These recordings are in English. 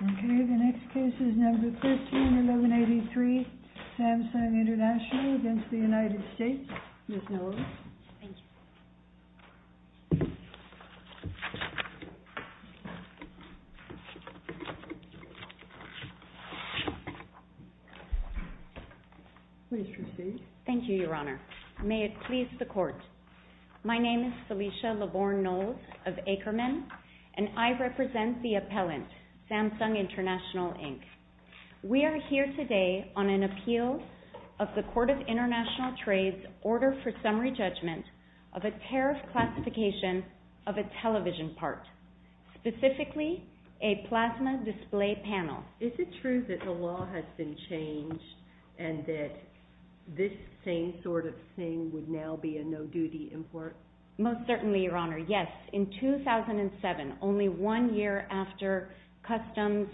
Okay, the next case is number 13, 1183, Samsung International against the United States. Please proceed, Ms. Knowles. Thank you. Please proceed. Thank you, Your Honor. May it please the Court. My name is Celicia LaVorne Knowles of Ackerman, and I represent the appellant, Samsung International Inc. We are here today on an appeal of the Court of International Trade's Order for Summary Judgment of a tariff classification of a television part, specifically a plasma display panel. Is it true that the law has been changed and that this same sort of thing would now be a no-duty import? Most certainly, Your Honor. Yes. In 2007, only one year after customs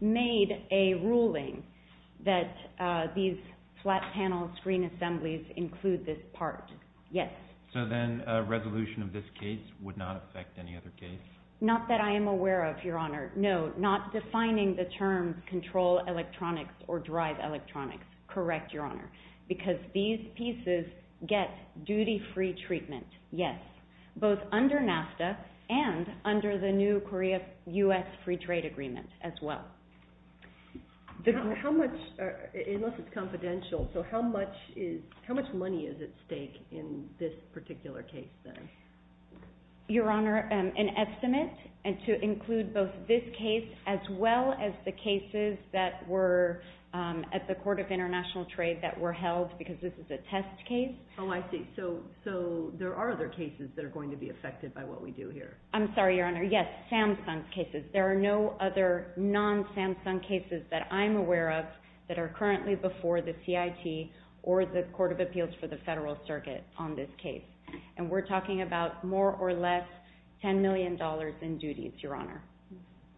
made a ruling that these flat panel screen assemblies include this part. Yes. So then a resolution of this case would not affect any other case? Not that I am aware of, Your Honor. No. Not defining the term control electronics or drive electronics. Correct, Your Honor. Because these pieces get duty-free treatment. Yes. Both under NAFTA and under the new Korea-U.S. free trade agreement as well. How much, unless it's confidential, so how much money is at stake in this particular case, then? Your Honor, an estimate, and to include both this case as well as the cases that were at the Court of International Trade that were held because this is a test case. Oh, I see. So there are other cases that are going to be affected by what we do here. I'm sorry, Your Honor. Yes, Samsung cases. There are no other non-Samsung cases that I'm aware of that are currently before the CIT or the Court of Appeals for the Federal Circuit on this case. And we're talking about more or less $10 million in duties, Your Honor,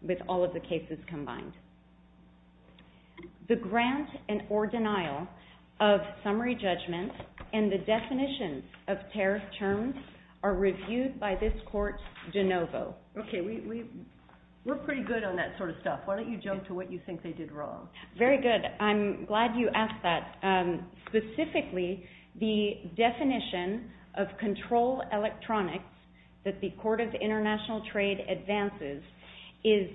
with all of the cases combined. The grant and or denial of summary judgment and the definitions of tariff terms are reviewed by this Court de novo. Okay, we're pretty good on that sort of stuff. Why don't you jump to what you think they did wrong? Very good. I'm glad you asked that. Specifically, the definition of control electronics that the Court of International Trade advances is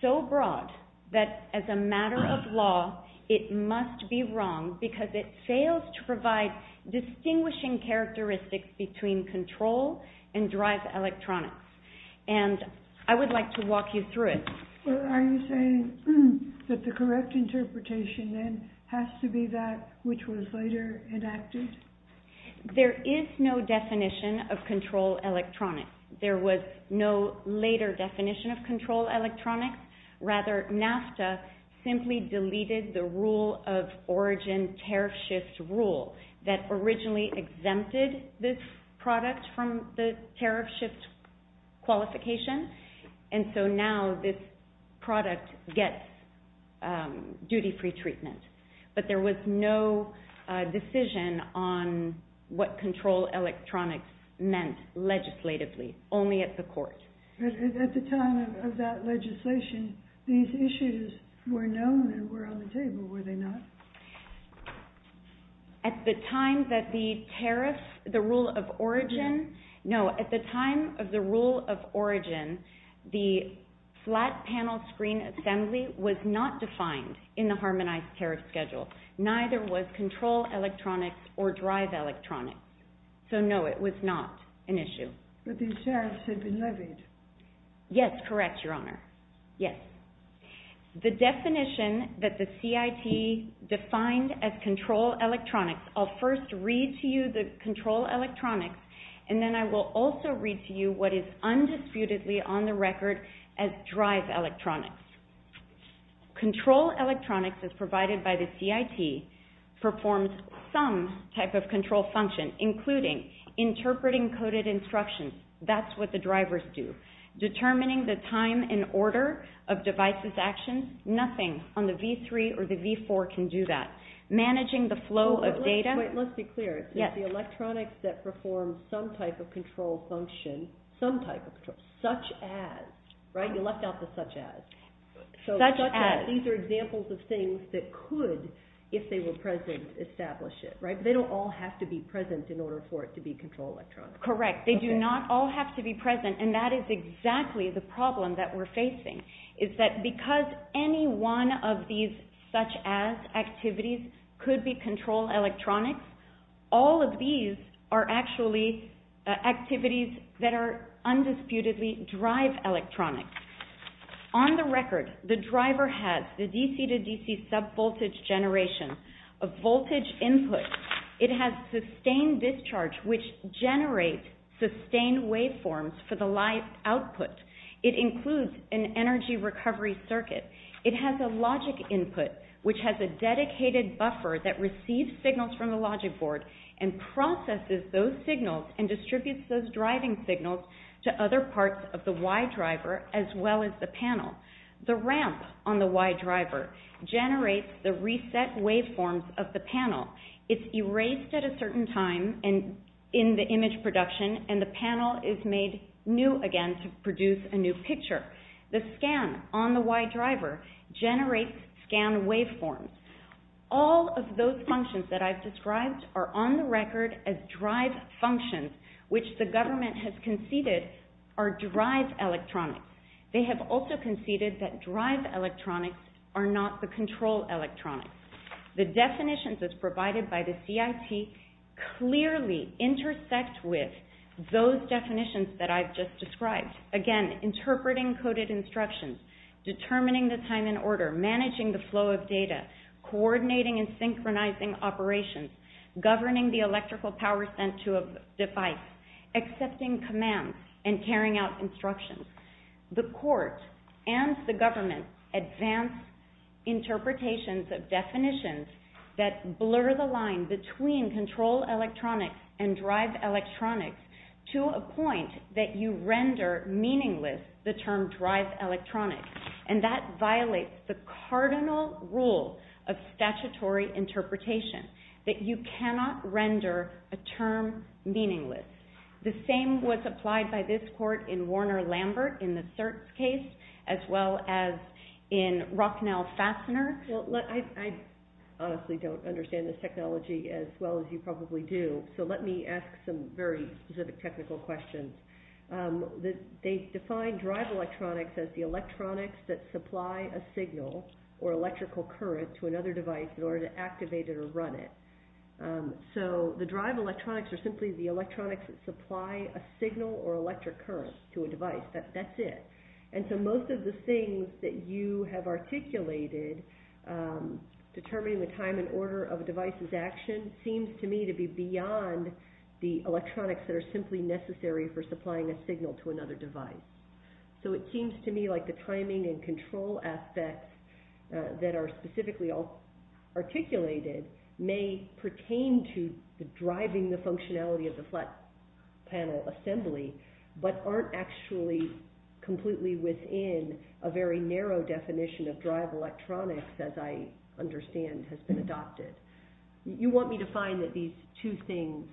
so broad that as a matter of law, it must be wrong because it fails to provide distinguishing characteristics between control and drive electronics. And I would like to walk you through it. Are you saying that the correct interpretation then has to be that which was later enacted? There is no definition of control electronics. There was no later definition of control electronics. Rather, NAFTA simply deleted the rule of origin tariff shift rule that originally exempted this product from the tariff shift qualification. And so now this product gets duty-free treatment. But there was no decision on what control electronics meant legislatively, only at the Court. At the time of that legislation, these issues were known and were on the table, were they not? At the time that the tariff, the rule of origin, no, at the time of the rule of origin, the rule of origin, there was no unharmonized tariff schedule, neither was control electronics or drive electronics. So no, it was not an issue. But these tariffs had been levied. Yes, correct, Your Honor. Yes. The definition that the CIT defined as control electronics, I'll first read to you the control electronics, and then I will also read to you what is undisputedly on the record as drive electronics. Control electronics, as provided by the CIT, performs some type of control function, including interpreting coded instructions, that's what the drivers do, determining the time and order of devices' actions, nothing on the V3 or the V4 can do that. Managing the flow of data... Wait, wait, let's be clear. Yes. It's the electronics that perform some type of control function, some type of control, such as, right? Oh, you left out the such as. Such as. So such as, these are examples of things that could, if they were present, establish it, right? But they don't all have to be present in order for it to be control electronics. Correct. They do not all have to be present, and that is exactly the problem that we're facing, is that because any one of these such as activities could be control electronics, all of these are actually activities that are undisputedly drive electronics. On the record, the driver has the DC to DC sub-voltage generation, a voltage input. It has sustained discharge, which generates sustained waveforms for the light output. It includes an energy recovery circuit. It has a logic input, which has a dedicated buffer that receives signals from the logic board and processes those signals and distributes those driving signals to other parts of the Y driver, as well as the panel. The ramp on the Y driver generates the reset waveforms of the panel. It's erased at a certain time in the image production, and the panel is made new again to produce a new picture. The scan on the Y driver generates scan waveforms. All of those functions that I've described are on the record as drive functions, which the government has conceded are drive electronics. They have also conceded that drive electronics are not the control electronics. The definitions as provided by the CIT clearly intersect with those definitions that I've just described. Again, interpreting coded instructions, determining the time and order, managing the flow of data, coordinating and synchronizing operations, governing the electrical power sent to a device, accepting commands, and carrying out instructions. The court and the government advance interpretations of definitions that blur the line between control electronics and drive electronics to a point that you render meaningless the term drive electronics. And that violates the cardinal rule of statutory interpretation, that you cannot render a term meaningless. The same was applied by this court in Warner-Lambert in the CERT case, as well as in Rocknell-Fassner. Well, I honestly don't understand this technology as well as you probably do, so let me ask some very specific technical questions. They define drive electronics as the electronics that supply a signal or electrical current to another device in order to activate it or run it. So the drive electronics are simply the electronics that supply a signal or electric current to a device. That's it. And so most of the things that you have articulated, determining the time and order of a device's applying a signal to another device. So it seems to me like the timing and control aspects that are specifically all articulated may pertain to the driving the functionality of the flat panel assembly, but aren't actually completely within a very narrow definition of drive electronics, as I understand has been adopted. You want me to find that these two things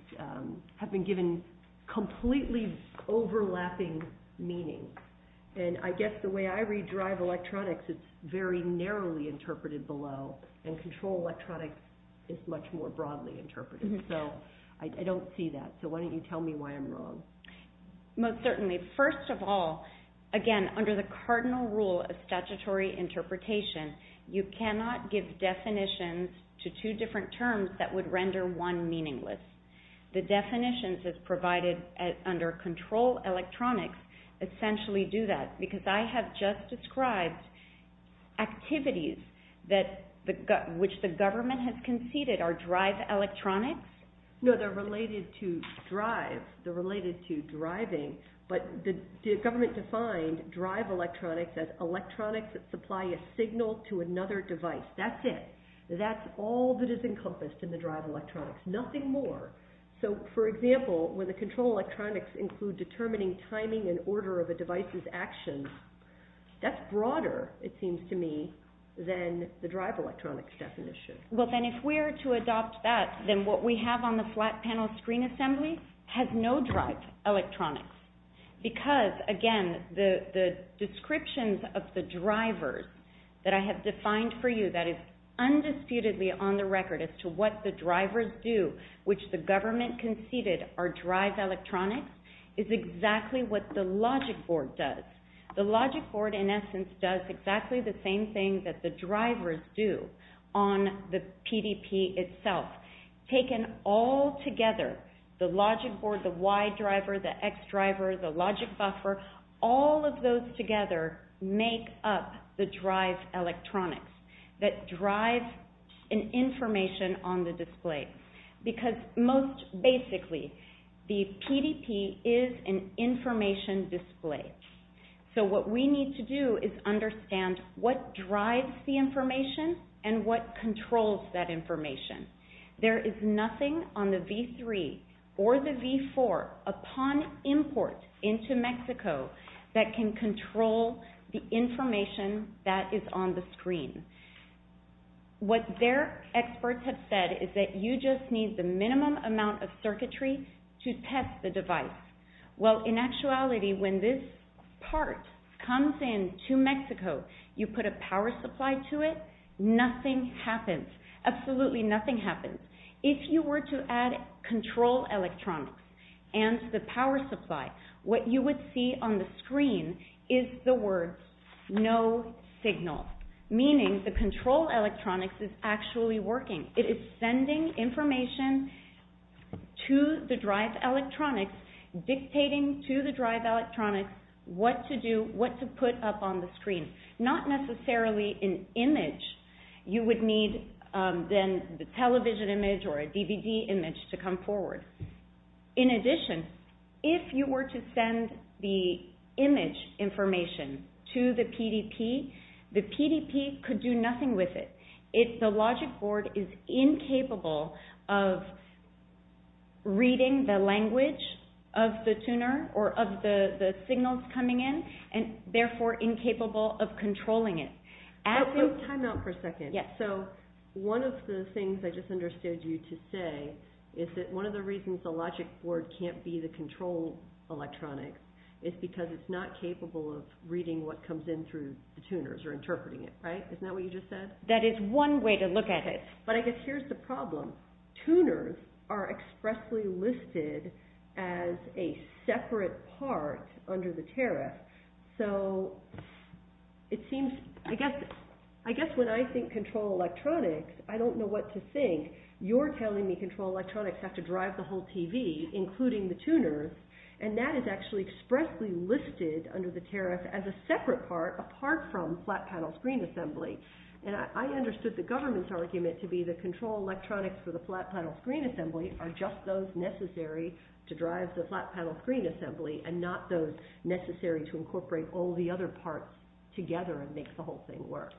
have been given completely overlapping meaning, and I guess the way I read drive electronics, it's very narrowly interpreted below, and control electronics is much more broadly interpreted, so I don't see that, so why don't you tell me why I'm wrong? Most certainly. First of all, again, under the cardinal rule of statutory interpretation, you cannot give definitions to two different terms that would render one meaningless. The definitions that's provided under control electronics essentially do that, because I have just described activities which the government has conceded are drive electronics. No, they're related to drive. They're related to driving, but the government defined drive electronics as electronics that supply a signal to another device. That's it. That's all that is encompassed in the drive electronics. Nothing more. So, for example, when the control electronics include determining timing and order of a device's actions, that's broader, it seems to me, than the drive electronics definition. Well, then if we are to adopt that, then what we have on the flat panel screen assembly has no drive electronics, because, again, the descriptions of the drivers that I have defined for you that is undisputedly on the record as to what the drivers do, which the government conceded are drive electronics, is exactly what the logic board does. The logic board, in essence, does exactly the same thing that the drivers do on the PDP itself. Taken all together, the logic board, the Y driver, the X driver, the logic buffer, all of those together make up the drive electronics that drive an information on the display. Because most basically, the PDP is an information display. So what we need to do is understand what drives the information and what controls that information. There is nothing on the V3 or the V4 upon import into Mexico that can control the information that is on the screen. What their experts have said is that you just need the minimum amount of circuitry to test the device. Well, in actuality, when this part comes in to Mexico, you put a power supply to it, nothing happens. Absolutely nothing happens. If you were to add control electronics and the power supply, what you would see on the screen is the words, no signal, meaning the control electronics is actually working. It is sending information to the drive electronics, dictating to the drive electronics what to do, what to put up on the screen. Not necessarily an image. You would need then the television image or a DVD image to come forward. In addition, if you were to send the image information to the PDP, the PDP could do nothing with it. The logic board is incapable of reading the language of the tuner or of the signals coming in, and therefore incapable of controlling it. Time out for a second. One of the things I just understood you to say is that one of the reasons the logic board can't be the control electronics is because it's not capable of reading what comes in through the tuners or interpreting it, right? Isn't that what you just said? That is one way to look at it. But I guess here's the problem. Tuners are expressly listed as a separate part under the tariff. So it seems, I guess when I think control electronics, I don't know what to think. You're telling me control electronics have to drive the whole TV, including the tuners, and that is actually expressly listed under the tariff as a separate part apart from flat panel screen assembly. I understood the government's argument to be the control electronics for the flat panel screen assembly are just those necessary to drive the flat panel screen assembly and not those necessary to incorporate all the other parts together and make the whole thing work.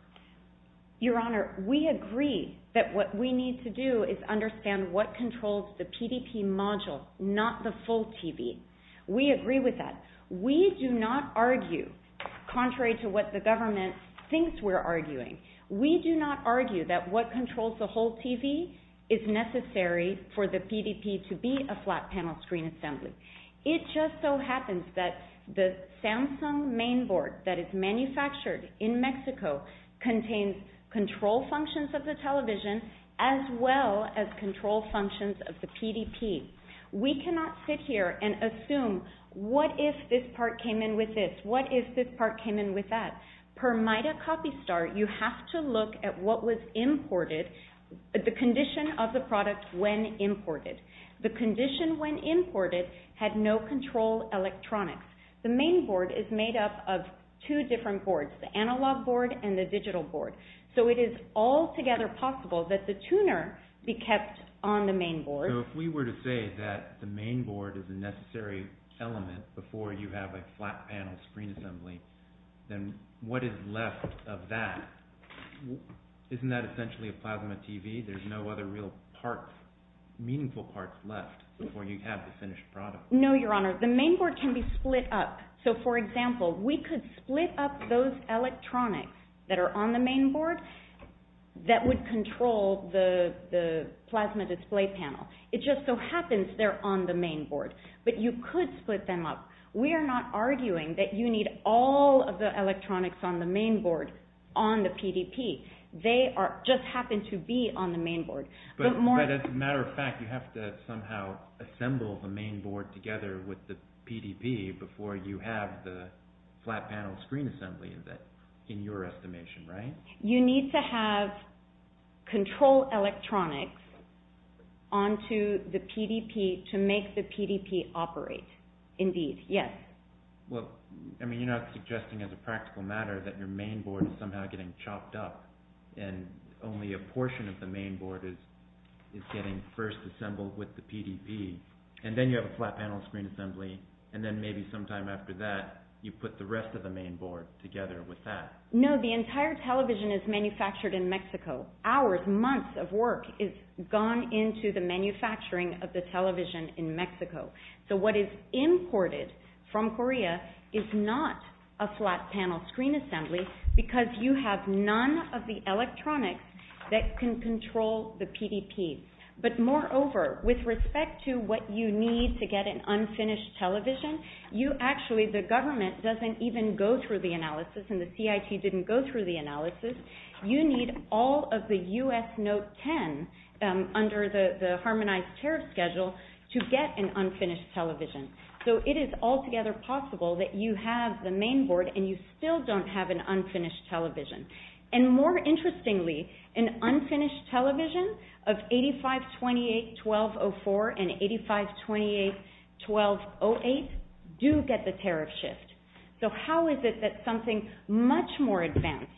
Your Honor, we agree that what we need to do is understand what controls the PDP module, not the full TV. We agree with that. We do not argue contrary to what the government thinks we're arguing. We do not argue that what controls the whole TV is necessary for the PDP to be a flat panel screen assembly. It just so happens that the Samsung mainboard that is manufactured in Mexico contains control functions of the television as well as control functions of the PDP. We cannot sit here and assume what if this part came in with this, what if this part came in with that. Per MITA copy start, you have to look at what was imported, the condition of the product when imported. The condition when imported had no control electronics. The mainboard is made up of two different boards, the analog board and the digital board. So it is altogether possible that the tuner be kept on the mainboard. So if we were to say that the mainboard is a necessary element before you have a flat panel screen assembly, then what is left of that? Isn't that essentially a plasma TV? There's no other real parts, meaningful parts left before you have the finished product. No, Your Honor. The mainboard can be split up. So for example, we could split up those electronics that are on the mainboard that would control the plasma display panel. It just so happens they're on the mainboard. But you could split them up. We are not arguing that you need all of the electronics on the mainboard on the PDP. They just happen to be on the mainboard. But as a matter of fact, you have to somehow assemble the mainboard together with the PDP before you have the flat panel screen assembly in your estimation, right? You need to have control electronics onto the PDP to make the PDP operate. Indeed. Yes. Well, I mean, you're not suggesting as a practical matter that your mainboard is somehow getting chopped up and only a portion of the mainboard is getting first assembled with the PDP. And then you have a flat panel screen assembly. And then maybe sometime after that, you put the rest of the mainboard together with that. No, the entire television is manufactured in Mexico. Hours, months of work is gone into the manufacturing of the television in Mexico. So what is imported from Korea is not a flat panel screen assembly because you have none of the electronics that can control the PDP. But moreover, with respect to what you need to get an unfinished television, you actually, the government doesn't even go through the analysis and the CIT didn't go through the analysis. You need all of the U.S. Note 10 under the harmonized tariff schedule to get an unfinished television. So it is altogether possible that you have the mainboard and you still don't have an unfinished television. And more interestingly, an unfinished television of 8528-1204 and 8528-1208 do get the tariff. So how is it that something much more advanced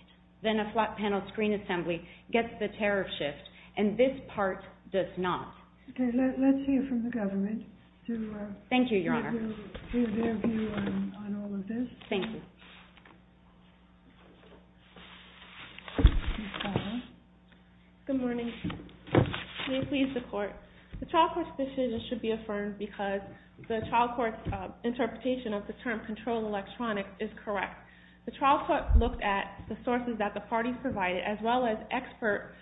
than a flat panel screen assembly gets the tariff shift and this part does not? Okay, let's hear from the government. Thank you, Your Honor. To give their view on all of this. Thank you. Good morning. May it please the Court. The child court's decision should be affirmed because the child court's interpretation of the term controlled electronics is correct. The child court looked at the sources that the parties provided as well as expert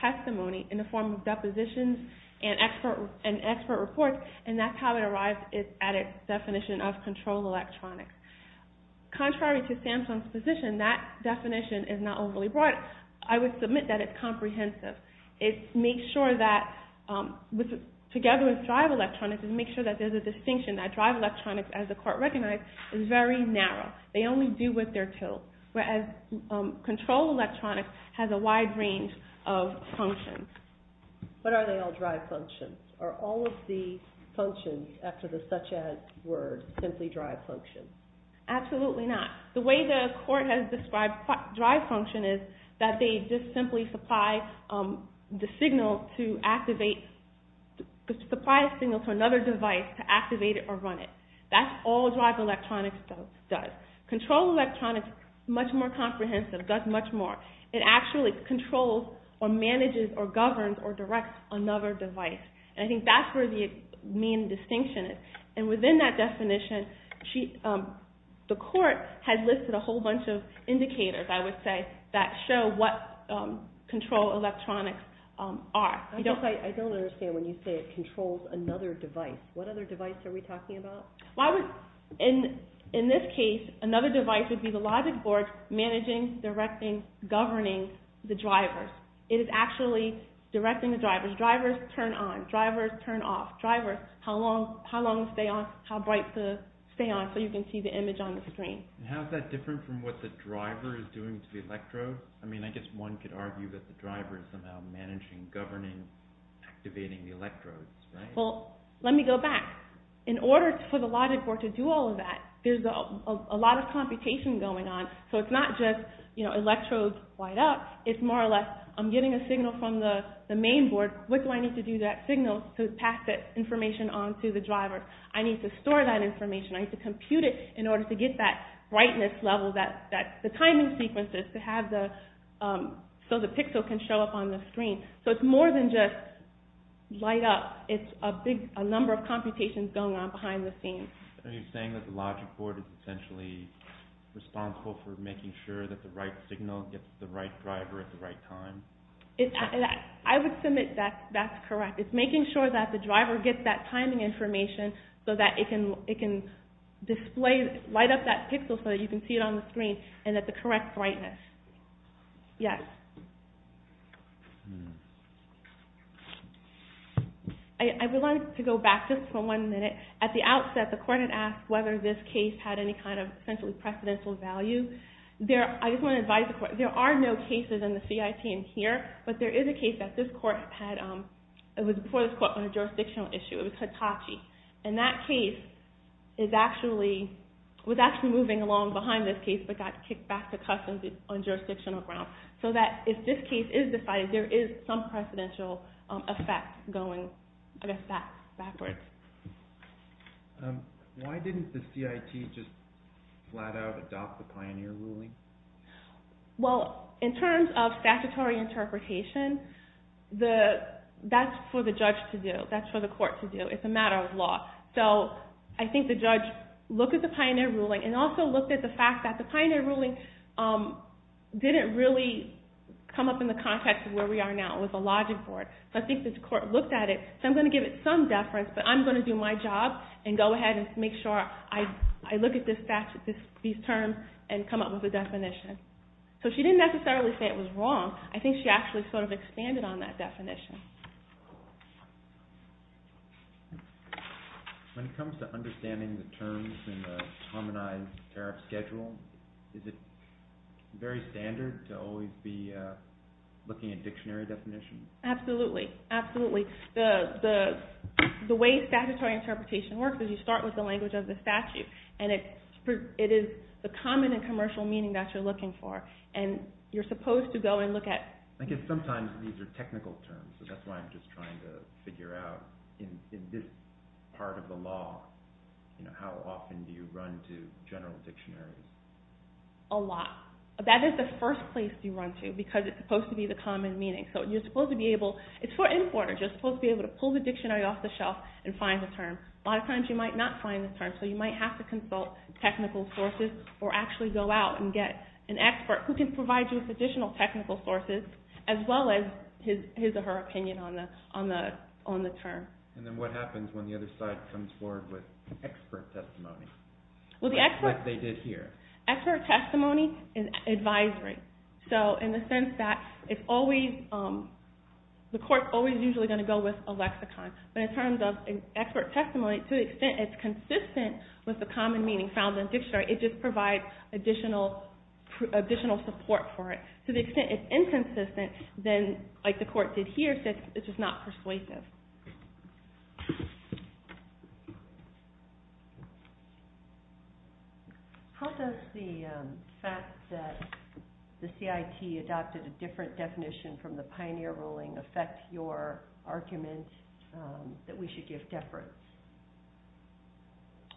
testimony in the form of depositions and expert reports. And that's how it arrived at its definition of controlled electronics. Contrary to Samsung's position, that definition is not overly broad. I would submit that it's comprehensive. It makes sure that, together with drive electronics, it makes sure that there's a distinction. That drive electronics, as the Court recognized, is very narrow. They only do what they're told. Whereas controlled electronics has a wide range of functions. But are they all drive functions? Are all of the functions, after the such-as word, simply drive functions? Absolutely not. The way the Court has described drive function is that they just simply supply the signal to another device to activate it or run it. That's all drive electronics does. Controlled electronics is much more comprehensive, does much more. It actually controls or manages or governs or directs another device. And I think that's where the main distinction is. And within that definition, the Court has listed a whole bunch of indicators, I would say, that show what controlled electronics are. I don't understand when you say it controls another device. What other device are we talking about? In this case, another device would be the logic board managing, directing, governing the drivers. It is actually directing the drivers. Drivers turn on. Drivers turn off. Drivers, how long to stay on, how bright to stay on, so you can see the image on the screen. How is that different from what the driver is doing to the electrode? I mean, I guess one could argue that the driver is somehow managing, governing, activating the electrodes, right? Well, let me go back. In order for the logic board to do all of that, there's a lot of computation going on. So it's not just electrodes light up. It's more or less, I'm getting a signal from the main board. What do I need to do that signal to pass that information on to the driver? I need to store that information. I need to compute it in order to get that brightness level, the timing sequences, so the pixel can show up on the screen. So it's more than just light up. It's a number of computations going on behind the scenes. Are you saying that the logic board is essentially responsible for making sure that the right signal gets to the right driver at the right time? I would submit that that's correct. It's making sure that the driver gets that timing information so that it can display, light up that pixel so that you can see it on the screen, and at the correct brightness. Yes? I would like to go back just for one minute. At the outset, the court had asked whether this case had any kind of essentially precedential value. I just want to advise the court, there are no cases in the CIT in here, but there is a case that was before this court on a jurisdictional issue. It was Hitachi. And that case was actually moving along behind this case, but got kicked back to Customs on jurisdictional ground. So if this case is decided, there is some precedential effect going backwards. Why didn't the CIT just flat out adopt the pioneer ruling? Well, in terms of statutory interpretation, that's for the judge to do. That's for the court to do. It's a matter of law. So I think the judge looked at the pioneer ruling, and also looked at the fact that the pioneer ruling didn't really come up in the context of where we are now. It was a logic board. So I think the court looked at it, and I'm going to give it some deference, but I'm going to do my job and go ahead and make sure I look at these terms and come up with a definition. So she didn't necessarily say it was wrong. I think she actually sort of expanded on that definition. When it comes to understanding the terms in the harmonized tariff schedule, is it very standard to always be looking at dictionary definitions? Absolutely. Absolutely. The way statutory interpretation works is you start with the language of the statute, and it is the common and commercial meaning that you're looking for. And you're supposed to go and look at... I guess sometimes these are technical terms, so that's why I'm just trying to figure out in this part of the law, how often do you run to general dictionaries? A lot. That is the first place you run to, because it's supposed to be the common meaning. It's for importers. You're supposed to be able to pull the dictionary off the shelf and find the term. A lot of times you might not find the term, so you might have to consult technical sources or actually go out and get an expert who can provide you with additional technical sources as well as his or her opinion on the term. And then what happens when the other side comes forward with expert testimony, like they did here? Expert testimony is advisory. So in the sense that the court's always usually going to go with a lexicon. But in terms of expert testimony, to the extent it's consistent with the common meaning found in a dictionary, it just provides additional support for it. To the extent it's inconsistent, then, like the court did here, it's just not persuasive. How does the fact that the CIT adopted a different definition from the Pioneer ruling affect your argument that we should give deference?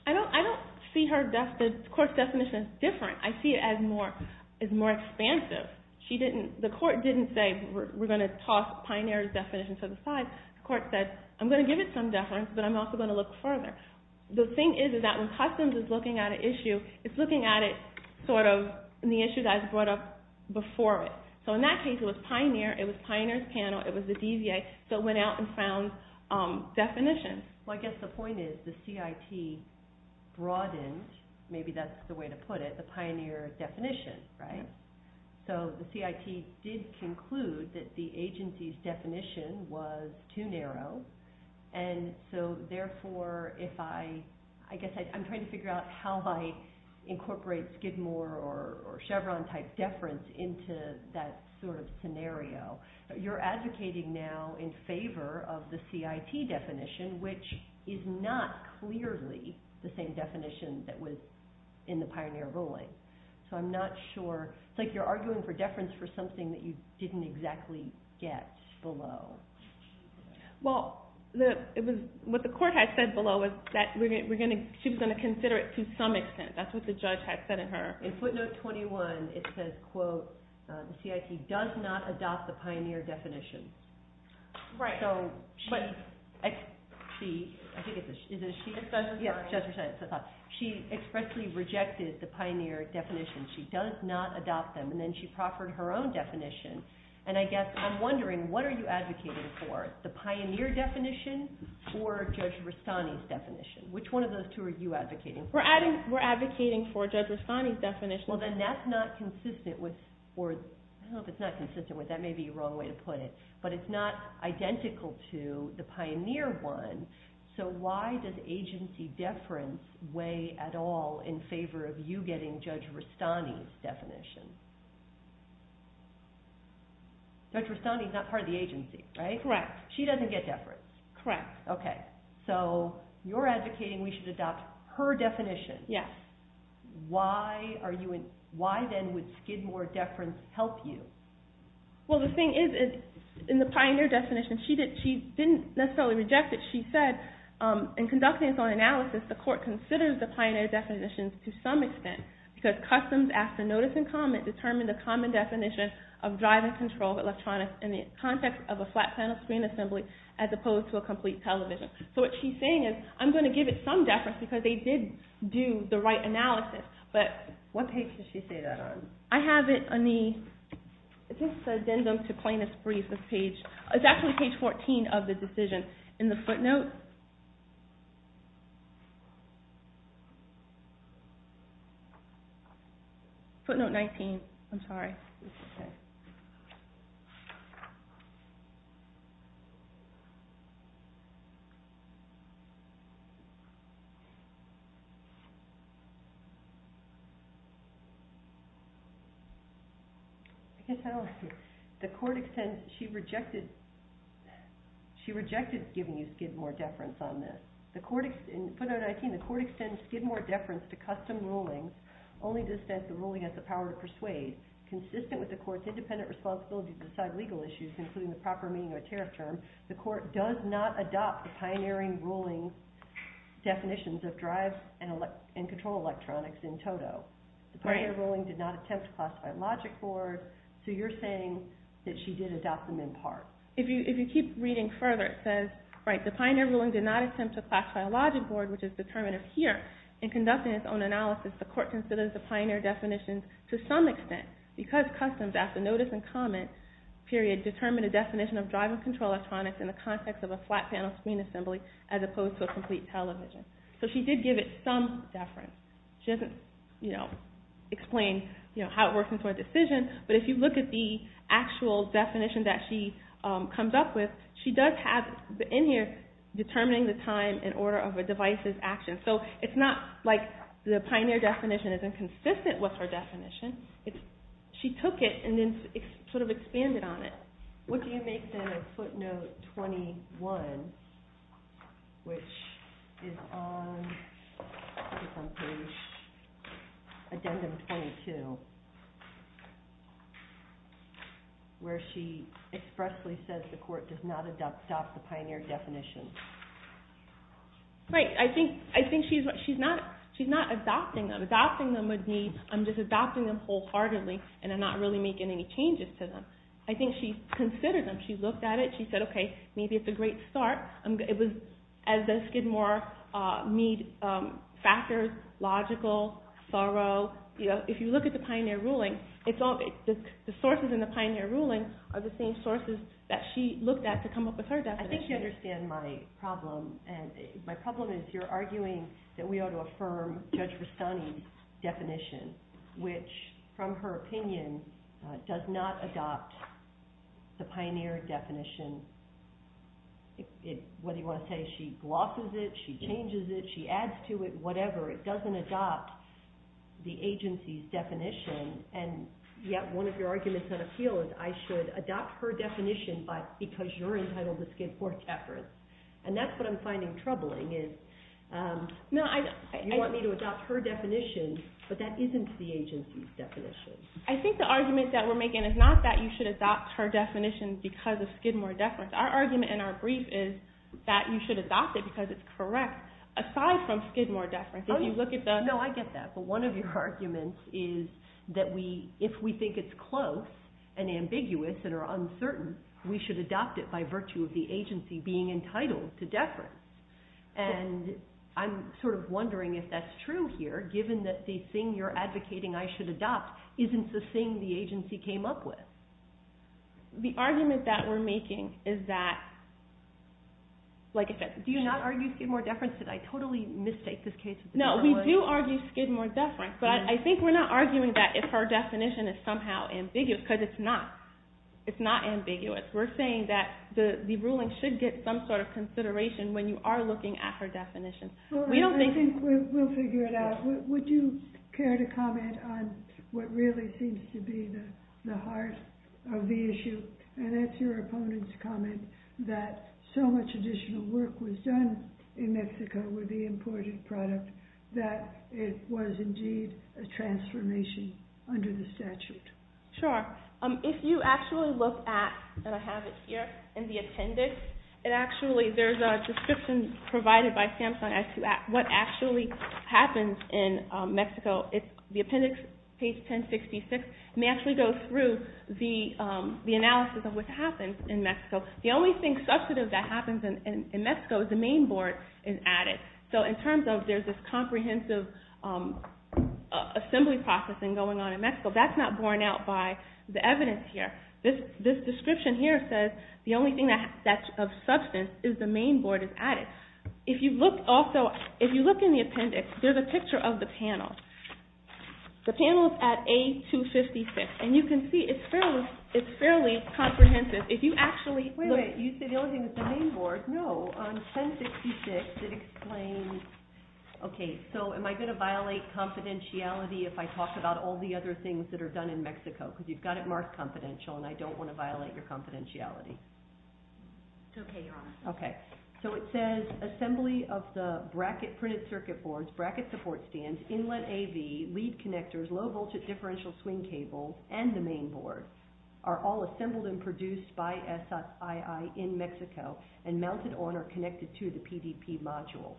I don't see her definition. The court's definition is different. I see it as more expansive. The court didn't say we're going to toss Pioneer's definition to the side. The court said, I'm going to give it some deference, but I'm also going to look further. The thing is that when Customs is looking at an issue, it's looking at it in the issue that was brought up before it. So in that case, it was Pioneer, it was Pioneer's panel, it was the DVA, so it went out and found definitions. Well, I guess the point is the CIT broadened, maybe that's the way to put it, the Pioneer definition. So the CIT did conclude that the agency's definition was too narrow, and so therefore if I, I guess I'm trying to figure out how I incorporate Skidmore or Chevron type deference into that sort of scenario. You're advocating now in favor of the CIT definition, which is not clearly the same definition that was in the Pioneer ruling. So I'm not sure, it's like you're arguing for deference for something that you didn't exactly get below. Well, what the court had said below was that she was going to consider it to some extent. That's what the judge had said in her. In footnote 21, it says, quote, the CIT does not adopt the Pioneer definition. Right. She expressly rejected the Pioneer definition. She does not adopt them. And then she proffered her own definition. And I guess I'm wondering, what are you advocating for, the Pioneer definition or Judge Rastani's definition? Which one of those two are you advocating for? We're advocating for Judge Rastani's definition. Well, then that's not consistent with, or I don't know if it's not consistent with, that may be the wrong way to put it. But it's not identical to the Pioneer one. So why does agency deference weigh at all in favor of you getting Judge Rastani's definition? Judge Rastani's not part of the agency, right? Correct. She doesn't get deference. Correct. Okay. So you're advocating we should adopt her definition. Yes. Why then would Skidmore deference help you? Well, the thing is, in the Pioneer definition, she didn't necessarily reject it. She said, in conducting its own analysis, the court considers the Pioneer definitions to some extent, because customs after notice and comment determine the common definition of drive and control of electronics in the context of a flat panel screen assembly as opposed to a complete television. So what she's saying is, I'm going to give it some deference, because they did do the right analysis. But what page does she say that on? I have it on the, is this addendum to plaintiff's brief, this page? It's actually page 14 of the decision. In the footnote? Footnote 19. I'm sorry. I can't tell. The court extends, she rejected, she rejected giving you Skidmore deference on this. The court, in footnote 19, the court extends Skidmore deference to custom rulings, only to the extent the ruling has the power to persuade. Consistent with the court's independent responsibility to decide legal issues, including the proper meaning of a tariff term, the court does not adopt the Pioneering ruling definitions of drive and control electronics in toto. The Pioneering ruling did not attempt to classify a logic board, so you're saying that she did adopt them in part. If you keep reading further, it says, right, the Pioneering ruling did not attempt to classify a logic board, which is determinative here, in conducting its own analysis, the court considers the Pioneering definitions to some extent, because customs after notice and comment, period, determined a definition of drive and control electronics in the context of a flat panel screen assembly as opposed to a complete television. So she did give it some deference. She doesn't explain how it works into a decision, but if you look at the actual definition that she comes up with, she does have, in here, determining the time and order of a device's action. So it's not like the Pioneer definition isn't consistent with her definition. She took it and then sort of expanded on it. Would you make, then, a footnote 21, which is on page, addendum 22, where she expressly says the court does not adopt the Pioneer definition. Right. I think she's not adopting them. Adopting them would be, I'm just adopting them wholeheartedly, and I'm not really making any changes to them. I think she considered them. She looked at it, she said, okay, maybe it's a great start. It was, as does Skidmore, need factors, logical, thorough. If you look at the Pioneer ruling, the sources in the Pioneer ruling are the same sources that she looked at to come up with her definition. I think you understand my problem. My problem is you're arguing that we ought to affirm Judge Rastani's definition, which, from her opinion, does not adopt the Pioneer definition. Whether you want to say she glosses it, she changes it, she adds to it, whatever, it doesn't adopt the agency's definition. And yet one of your arguments on appeal is I should adopt her definition because you're entitled to Skidmore's efforts. And that's what I'm finding troubling is you want me to adopt her definition, but that isn't the agency's definition. I think the argument that we're making is not that you should adopt her definition because of Skidmore deference. Our argument in our brief is that you should adopt it because it's correct. Aside from Skidmore deference, if you look at the- No, I get that. But one of your arguments is that if we think it's close and ambiguous and are uncertain, we should adopt it by virtue of the agency being entitled to deference. And I'm sort of wondering if that's true here, given that the thing you're advocating, I should adopt, isn't the thing the agency came up with. The argument that we're making is that- Do you not argue Skidmore deference? Did I totally mistake this case? No, we do argue Skidmore deference, but I think we're not arguing that if her definition is somehow ambiguous, because it's not. It's not ambiguous. We're saying that the ruling should get some sort of consideration when you are looking at her definition. I think we'll figure it out. Would you care to comment on what really seems to be the heart of the issue? And that's your opponent's comment, that so much additional work was done in Mexico with the imported product that it was indeed a transformation under the statute. Sure. If you actually look at, and I have it here in the appendix, there's a description provided by SAMHSA as to what actually happens in Mexico. The appendix, page 1066, may actually go through the analysis of what happens in Mexico. The only thing substantive that happens in Mexico is the main board is added. So in terms of there's this comprehensive assembly process going on in Mexico, that's not borne out by the evidence here. This description here says the only thing that's of substance is the main board is added. If you look in the appendix, there's a picture of the panel. The panel is at A256, and you can see it's fairly comprehensive. If you actually look... Wait, wait. You said the only thing is the main board. No, on 1066 it explains... Okay, so am I going to violate confidentiality if I talk about all the other things that are done in Mexico? Because you've got it marked confidential, and I don't want to violate your confidentiality. It's okay, you're on. Okay. So it says assembly of the bracket printed circuit boards, bracket support stands, inlet AV, lead connectors, low voltage differential swing cable, and the main board are all assembled and produced by SSII in Mexico and mounted on or connected to the PDP module.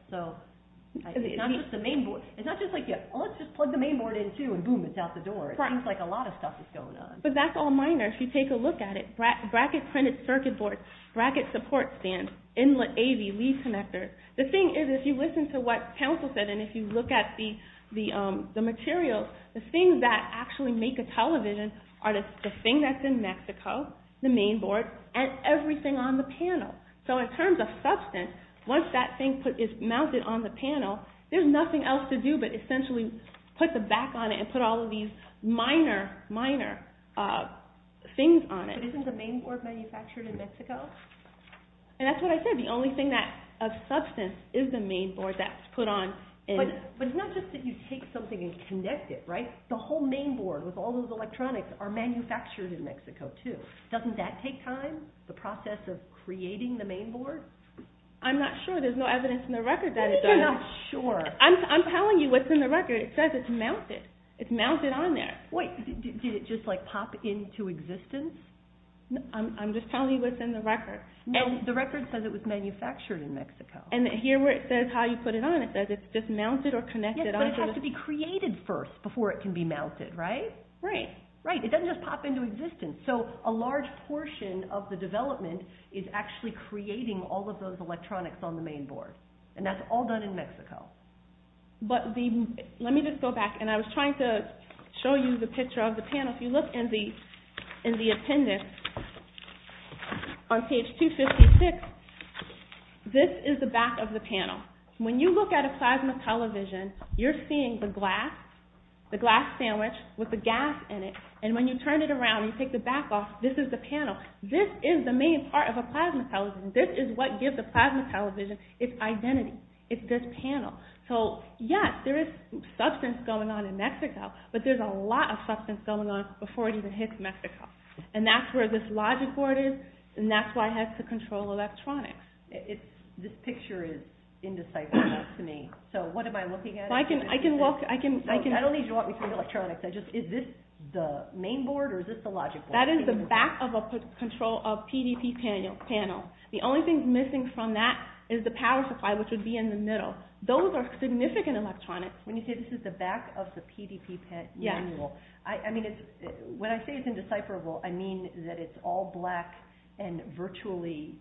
It's not just the main board. It's not just like, let's just plug the main board in too, and boom, it's out the door. It seems like a lot of stuff is going on. But that's all minor. If you take a look at it, bracket printed circuit boards, bracket support stands, inlet AV, lead connectors. The thing is, if you listen to what counsel said and if you look at the materials, the things that actually make a television are the thing that's in Mexico, the main board, and everything on the panel. So in terms of substance, once that thing is mounted on the panel, there's nothing else to do but essentially put the back on it and put all of these minor, minor things on it. But isn't the main board manufactured in Mexico? And that's what I said. The only thing of substance is the main board that's put on. But it's not just that you take something and connect it, right? The whole main board with all those electronics are manufactured in Mexico too. Doesn't that take time, the process of creating the main board? I'm not sure. No, there's no evidence in the record that it does. You're not sure. I'm telling you what's in the record. It says it's mounted. It's mounted on there. Wait, did it just pop into existence? I'm just telling you what's in the record. No, the record says it was manufactured in Mexico. And here where it says how you put it on, it says it's just mounted or connected. Yes, but it has to be created first before it can be mounted, right? Right. It doesn't just pop into existence. So a large portion of the development is actually creating all of those electronics on the main board. And that's all done in Mexico. But let me just go back. And I was trying to show you the picture of the panel. If you look in the appendix on page 256, this is the back of the panel. When you look at a plasma television, you're seeing the glass sandwich with the gas in it. And when you turn it around and you take the back off, this is the panel. This is the main part of a plasma television. This is what gives a plasma television its identity. It's this panel. So yes, there is substance going on in Mexico, but there's a lot of substance going on before it even hits Mexico. And that's where this logic board is, and that's why it has to control electronics. This picture is indecisive enough to me. So what am I looking at? I don't need you to walk me through the electronics. Is this the main board or is this the logic board? That is the back of a PDP panel. The only thing missing from that is the power supply, which would be in the middle. Those are significant electronics. When you say this is the back of the PDP panel, I mean, when I say it's indecipherable, I mean that it's all black and virtually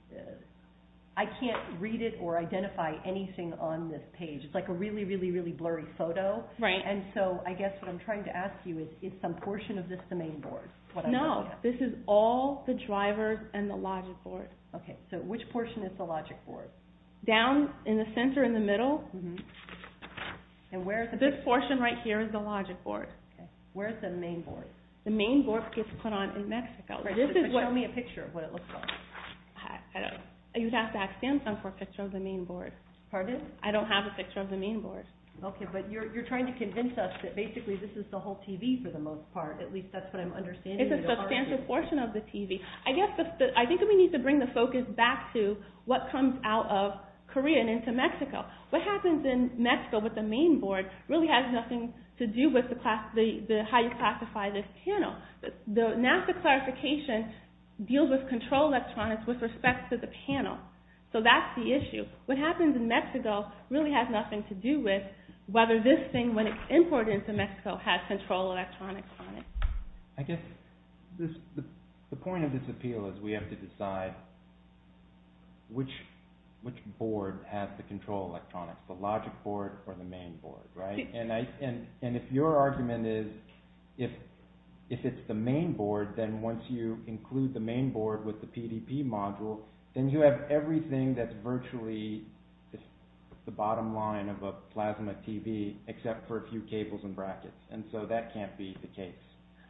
I can't read it or identify anything on this page. It's like a really, really, really blurry photo. And so I guess what I'm trying to ask you is, is some portion of this the main board? No, this is all the drivers and the logic board. Okay, so which portion is the logic board? Down in the center in the middle. This portion right here is the logic board. Where is the main board? The main board gets put on in Mexico. Show me a picture of what it looks like. You'd have to ask Samsung for a picture of the main board. Pardon? I don't have a picture of the main board. Okay, but you're trying to convince us that basically this is the whole TV for the most part. At least that's what I'm understanding. It's a substantial portion of the TV. I think we need to bring the focus back to what comes out of Korea and into Mexico. What happens in Mexico with the main board really has nothing to do with how you classify this panel. NASA clarification deals with control electronics with respect to the panel. So that's the issue. What happens in Mexico really has nothing to do with whether this thing, when it's imported into Mexico, has control electronics on it. I guess the point of this appeal is we have to decide which board has the control electronics, the logic board or the main board. And if your argument is if it's the main board, then once you include the main board with the PDP module, then you have everything that's virtually the bottom line of a plasma TV except for a few cables and brackets. And so that can't be the case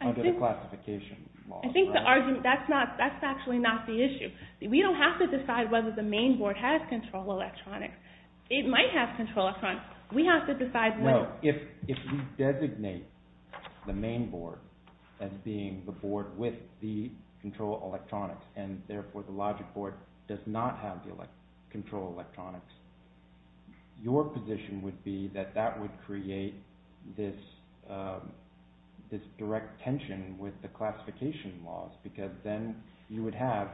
under the classification laws. I think that's actually not the issue. We don't have to decide whether the main board has control electronics. It might have control electronics. We have to decide when. No, if you designate the main board as being the board with the control electronics and therefore the logic board does not have the control electronics, your position would be that that would create this direct tension with the classification laws because then you would have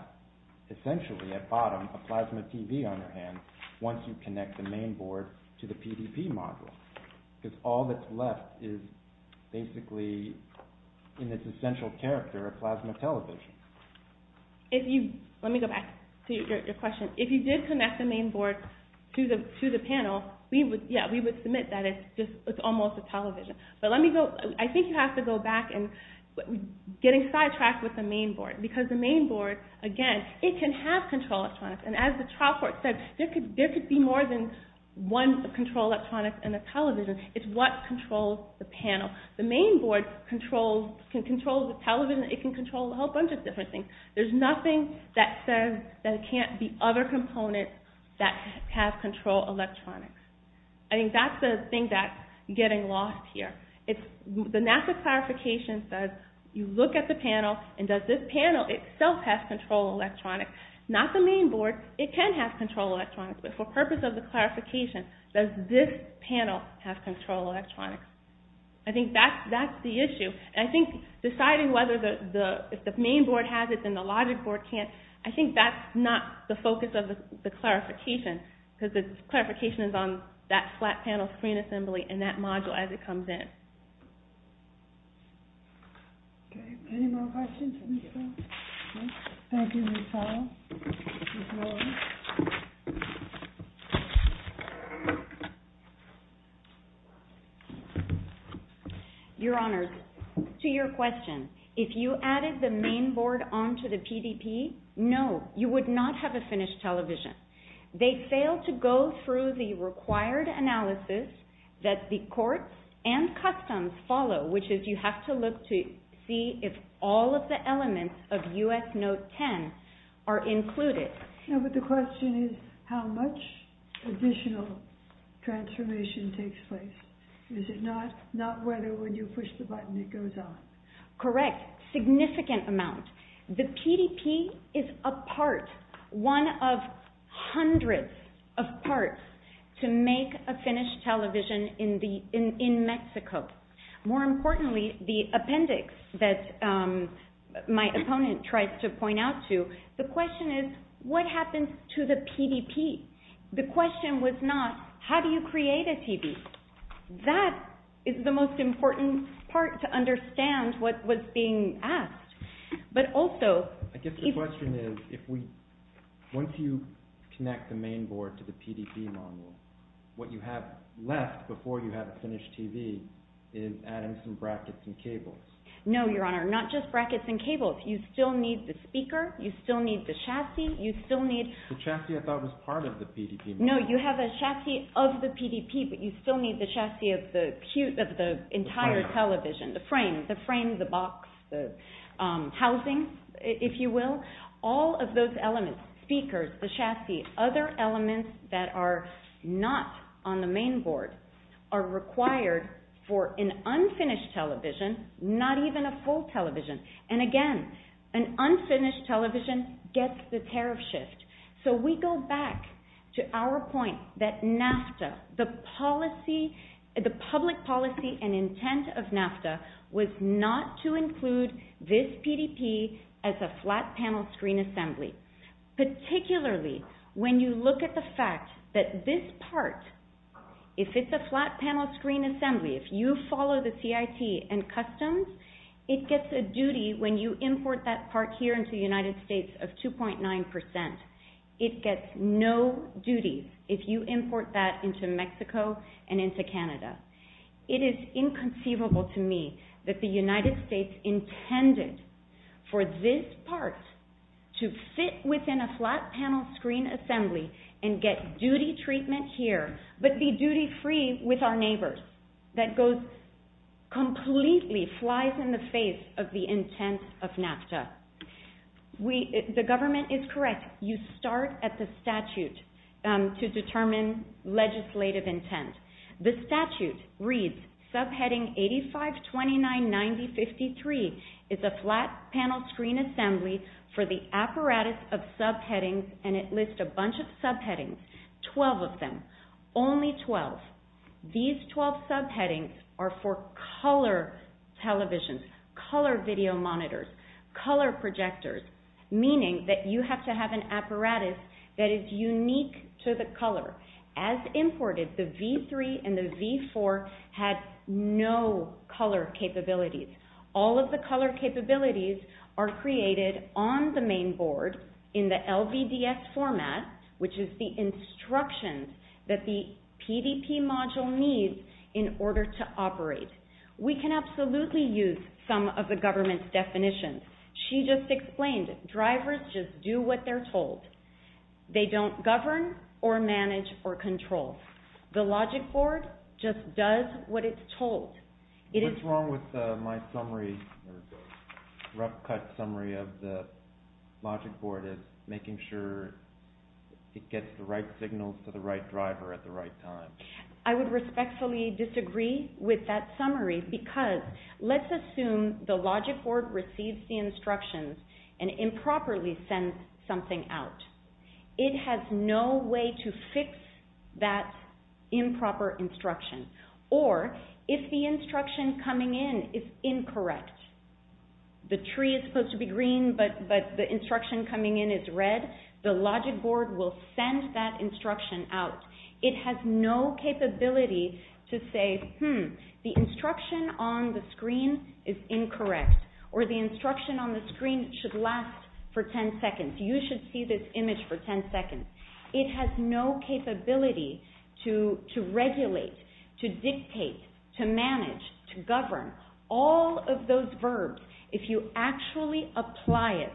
essentially at bottom a plasma TV on your hand once you connect the main board to the PDP module because all that's left is basically in its essential character a plasma television. Let me go back to your question. If you did connect the main board to the panel, we would submit that it's almost a television. But I think you have to go back and getting sidetracked with the main board because the main board, again, it can have control electronics. And as the trial court said, there could be more than one control electronics in a television. It's what controls the panel. The main board can control the television. It can control a whole bunch of different things. There's nothing that says that it can't be other components that have control electronics. I think that's the thing that's getting lost here. The NASA clarification says you look at the panel and does this panel itself have control electronics? Not the main board. It can have control electronics, but for purpose of the clarification, does this panel have control electronics? I think that's the issue. I think deciding whether the main board has it and the logic board can't, I think that's not the focus of the clarification because the clarification is on that flat panel screen assembly and that module as it comes in. Any more questions? Thank you, Michelle. Your Honor, to your question, if you added the main board onto the PDP, no, you would not have a finished television. They failed to go through the required analysis that the courts and customs follow, which is you have to look to see if all of the elements of U.S. Note 10 are included. No, but the question is how much additional transformation takes place. Is it not whether when you push the button it goes on? Correct. Significant amount. The PDP is a part, one of hundreds of parts to make a finished television in Mexico. More importantly, the appendix that my opponent tries to point out to, the question is what happens to the PDP? The question was not how do you create a TV? That is the most important part to understand what was being asked. But also... I guess the question is, once you connect the main board to the PDP module, what you have left before you have a finished TV is adding some brackets and cables. No, Your Honor, not just brackets and cables. You still need the speaker, you still need the chassis, you still need... The chassis I thought was part of the PDP module. No, you have a chassis of the PDP, but you still need the chassis of the entire television. The frame. The frame, the box, the housing, if you will. All of those elements, speakers, the chassis, other elements that are not on the main board are required for an unfinished television, not even a full television. And again, an unfinished television gets the tariff shift. So we go back to our point that NAFTA, the public policy and intent of NAFTA was not to include this PDP as a flat panel screen assembly. Particularly when you look at the fact that this part, if it's a flat panel screen assembly, if you follow the CIT and customs, it gets a duty when you import that part here into the United States of 2.9%. It gets no duty. If you import that into Mexico and into Canada. It is inconceivable to me that the United States intended for this part to fit within a flat panel screen assembly and get duty treatment here, but be duty-free with our neighbors. That completely flies in the face of the intent of NAFTA. The government is correct. You start at the statute to determine legislative intent. The statute reads subheading 85, 29, 90, 53 is a flat panel screen assembly for the apparatus of subheadings and it lists a bunch of subheadings, 12 of them, only 12. These 12 subheadings are for color televisions, color video monitors, color projectors, meaning that you have to have an apparatus that is unique to the color. As imported, the V3 and the V4 had no color capabilities. All of the color capabilities are created on the main board in the LVDS format, which is the instructions that the PDP module needs in order to operate. We can absolutely use some of the government's definitions. She just explained, drivers just do what they're told. They don't govern or manage or control. The logic board just does what it's told. What's wrong with my summary, the rough cut summary of the logic board is making sure it gets the right signals to the right driver at the right time. I would respectfully disagree with that summary because let's assume the logic board receives the instructions and improperly sends something out. It has no way to fix that improper instruction. Or if the instruction coming in is incorrect, the tree is supposed to be green, but the instruction coming in is red, the logic board will send that instruction out. It has no capability to say, hmm, the instruction on the screen is incorrect or the instruction on the screen should last for 10 seconds. You should see this image for 10 seconds. It has no capability to regulate, to dictate, to manage, to govern. All of those verbs, if you actually apply it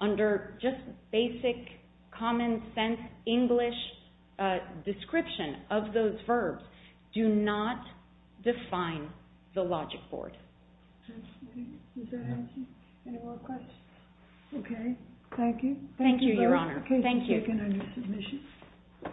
under just basic, common sense English description of those verbs, do not define the logic board. Does that answer any more questions? Okay, thank you. Thank you, Your Honor. Please take it under submission.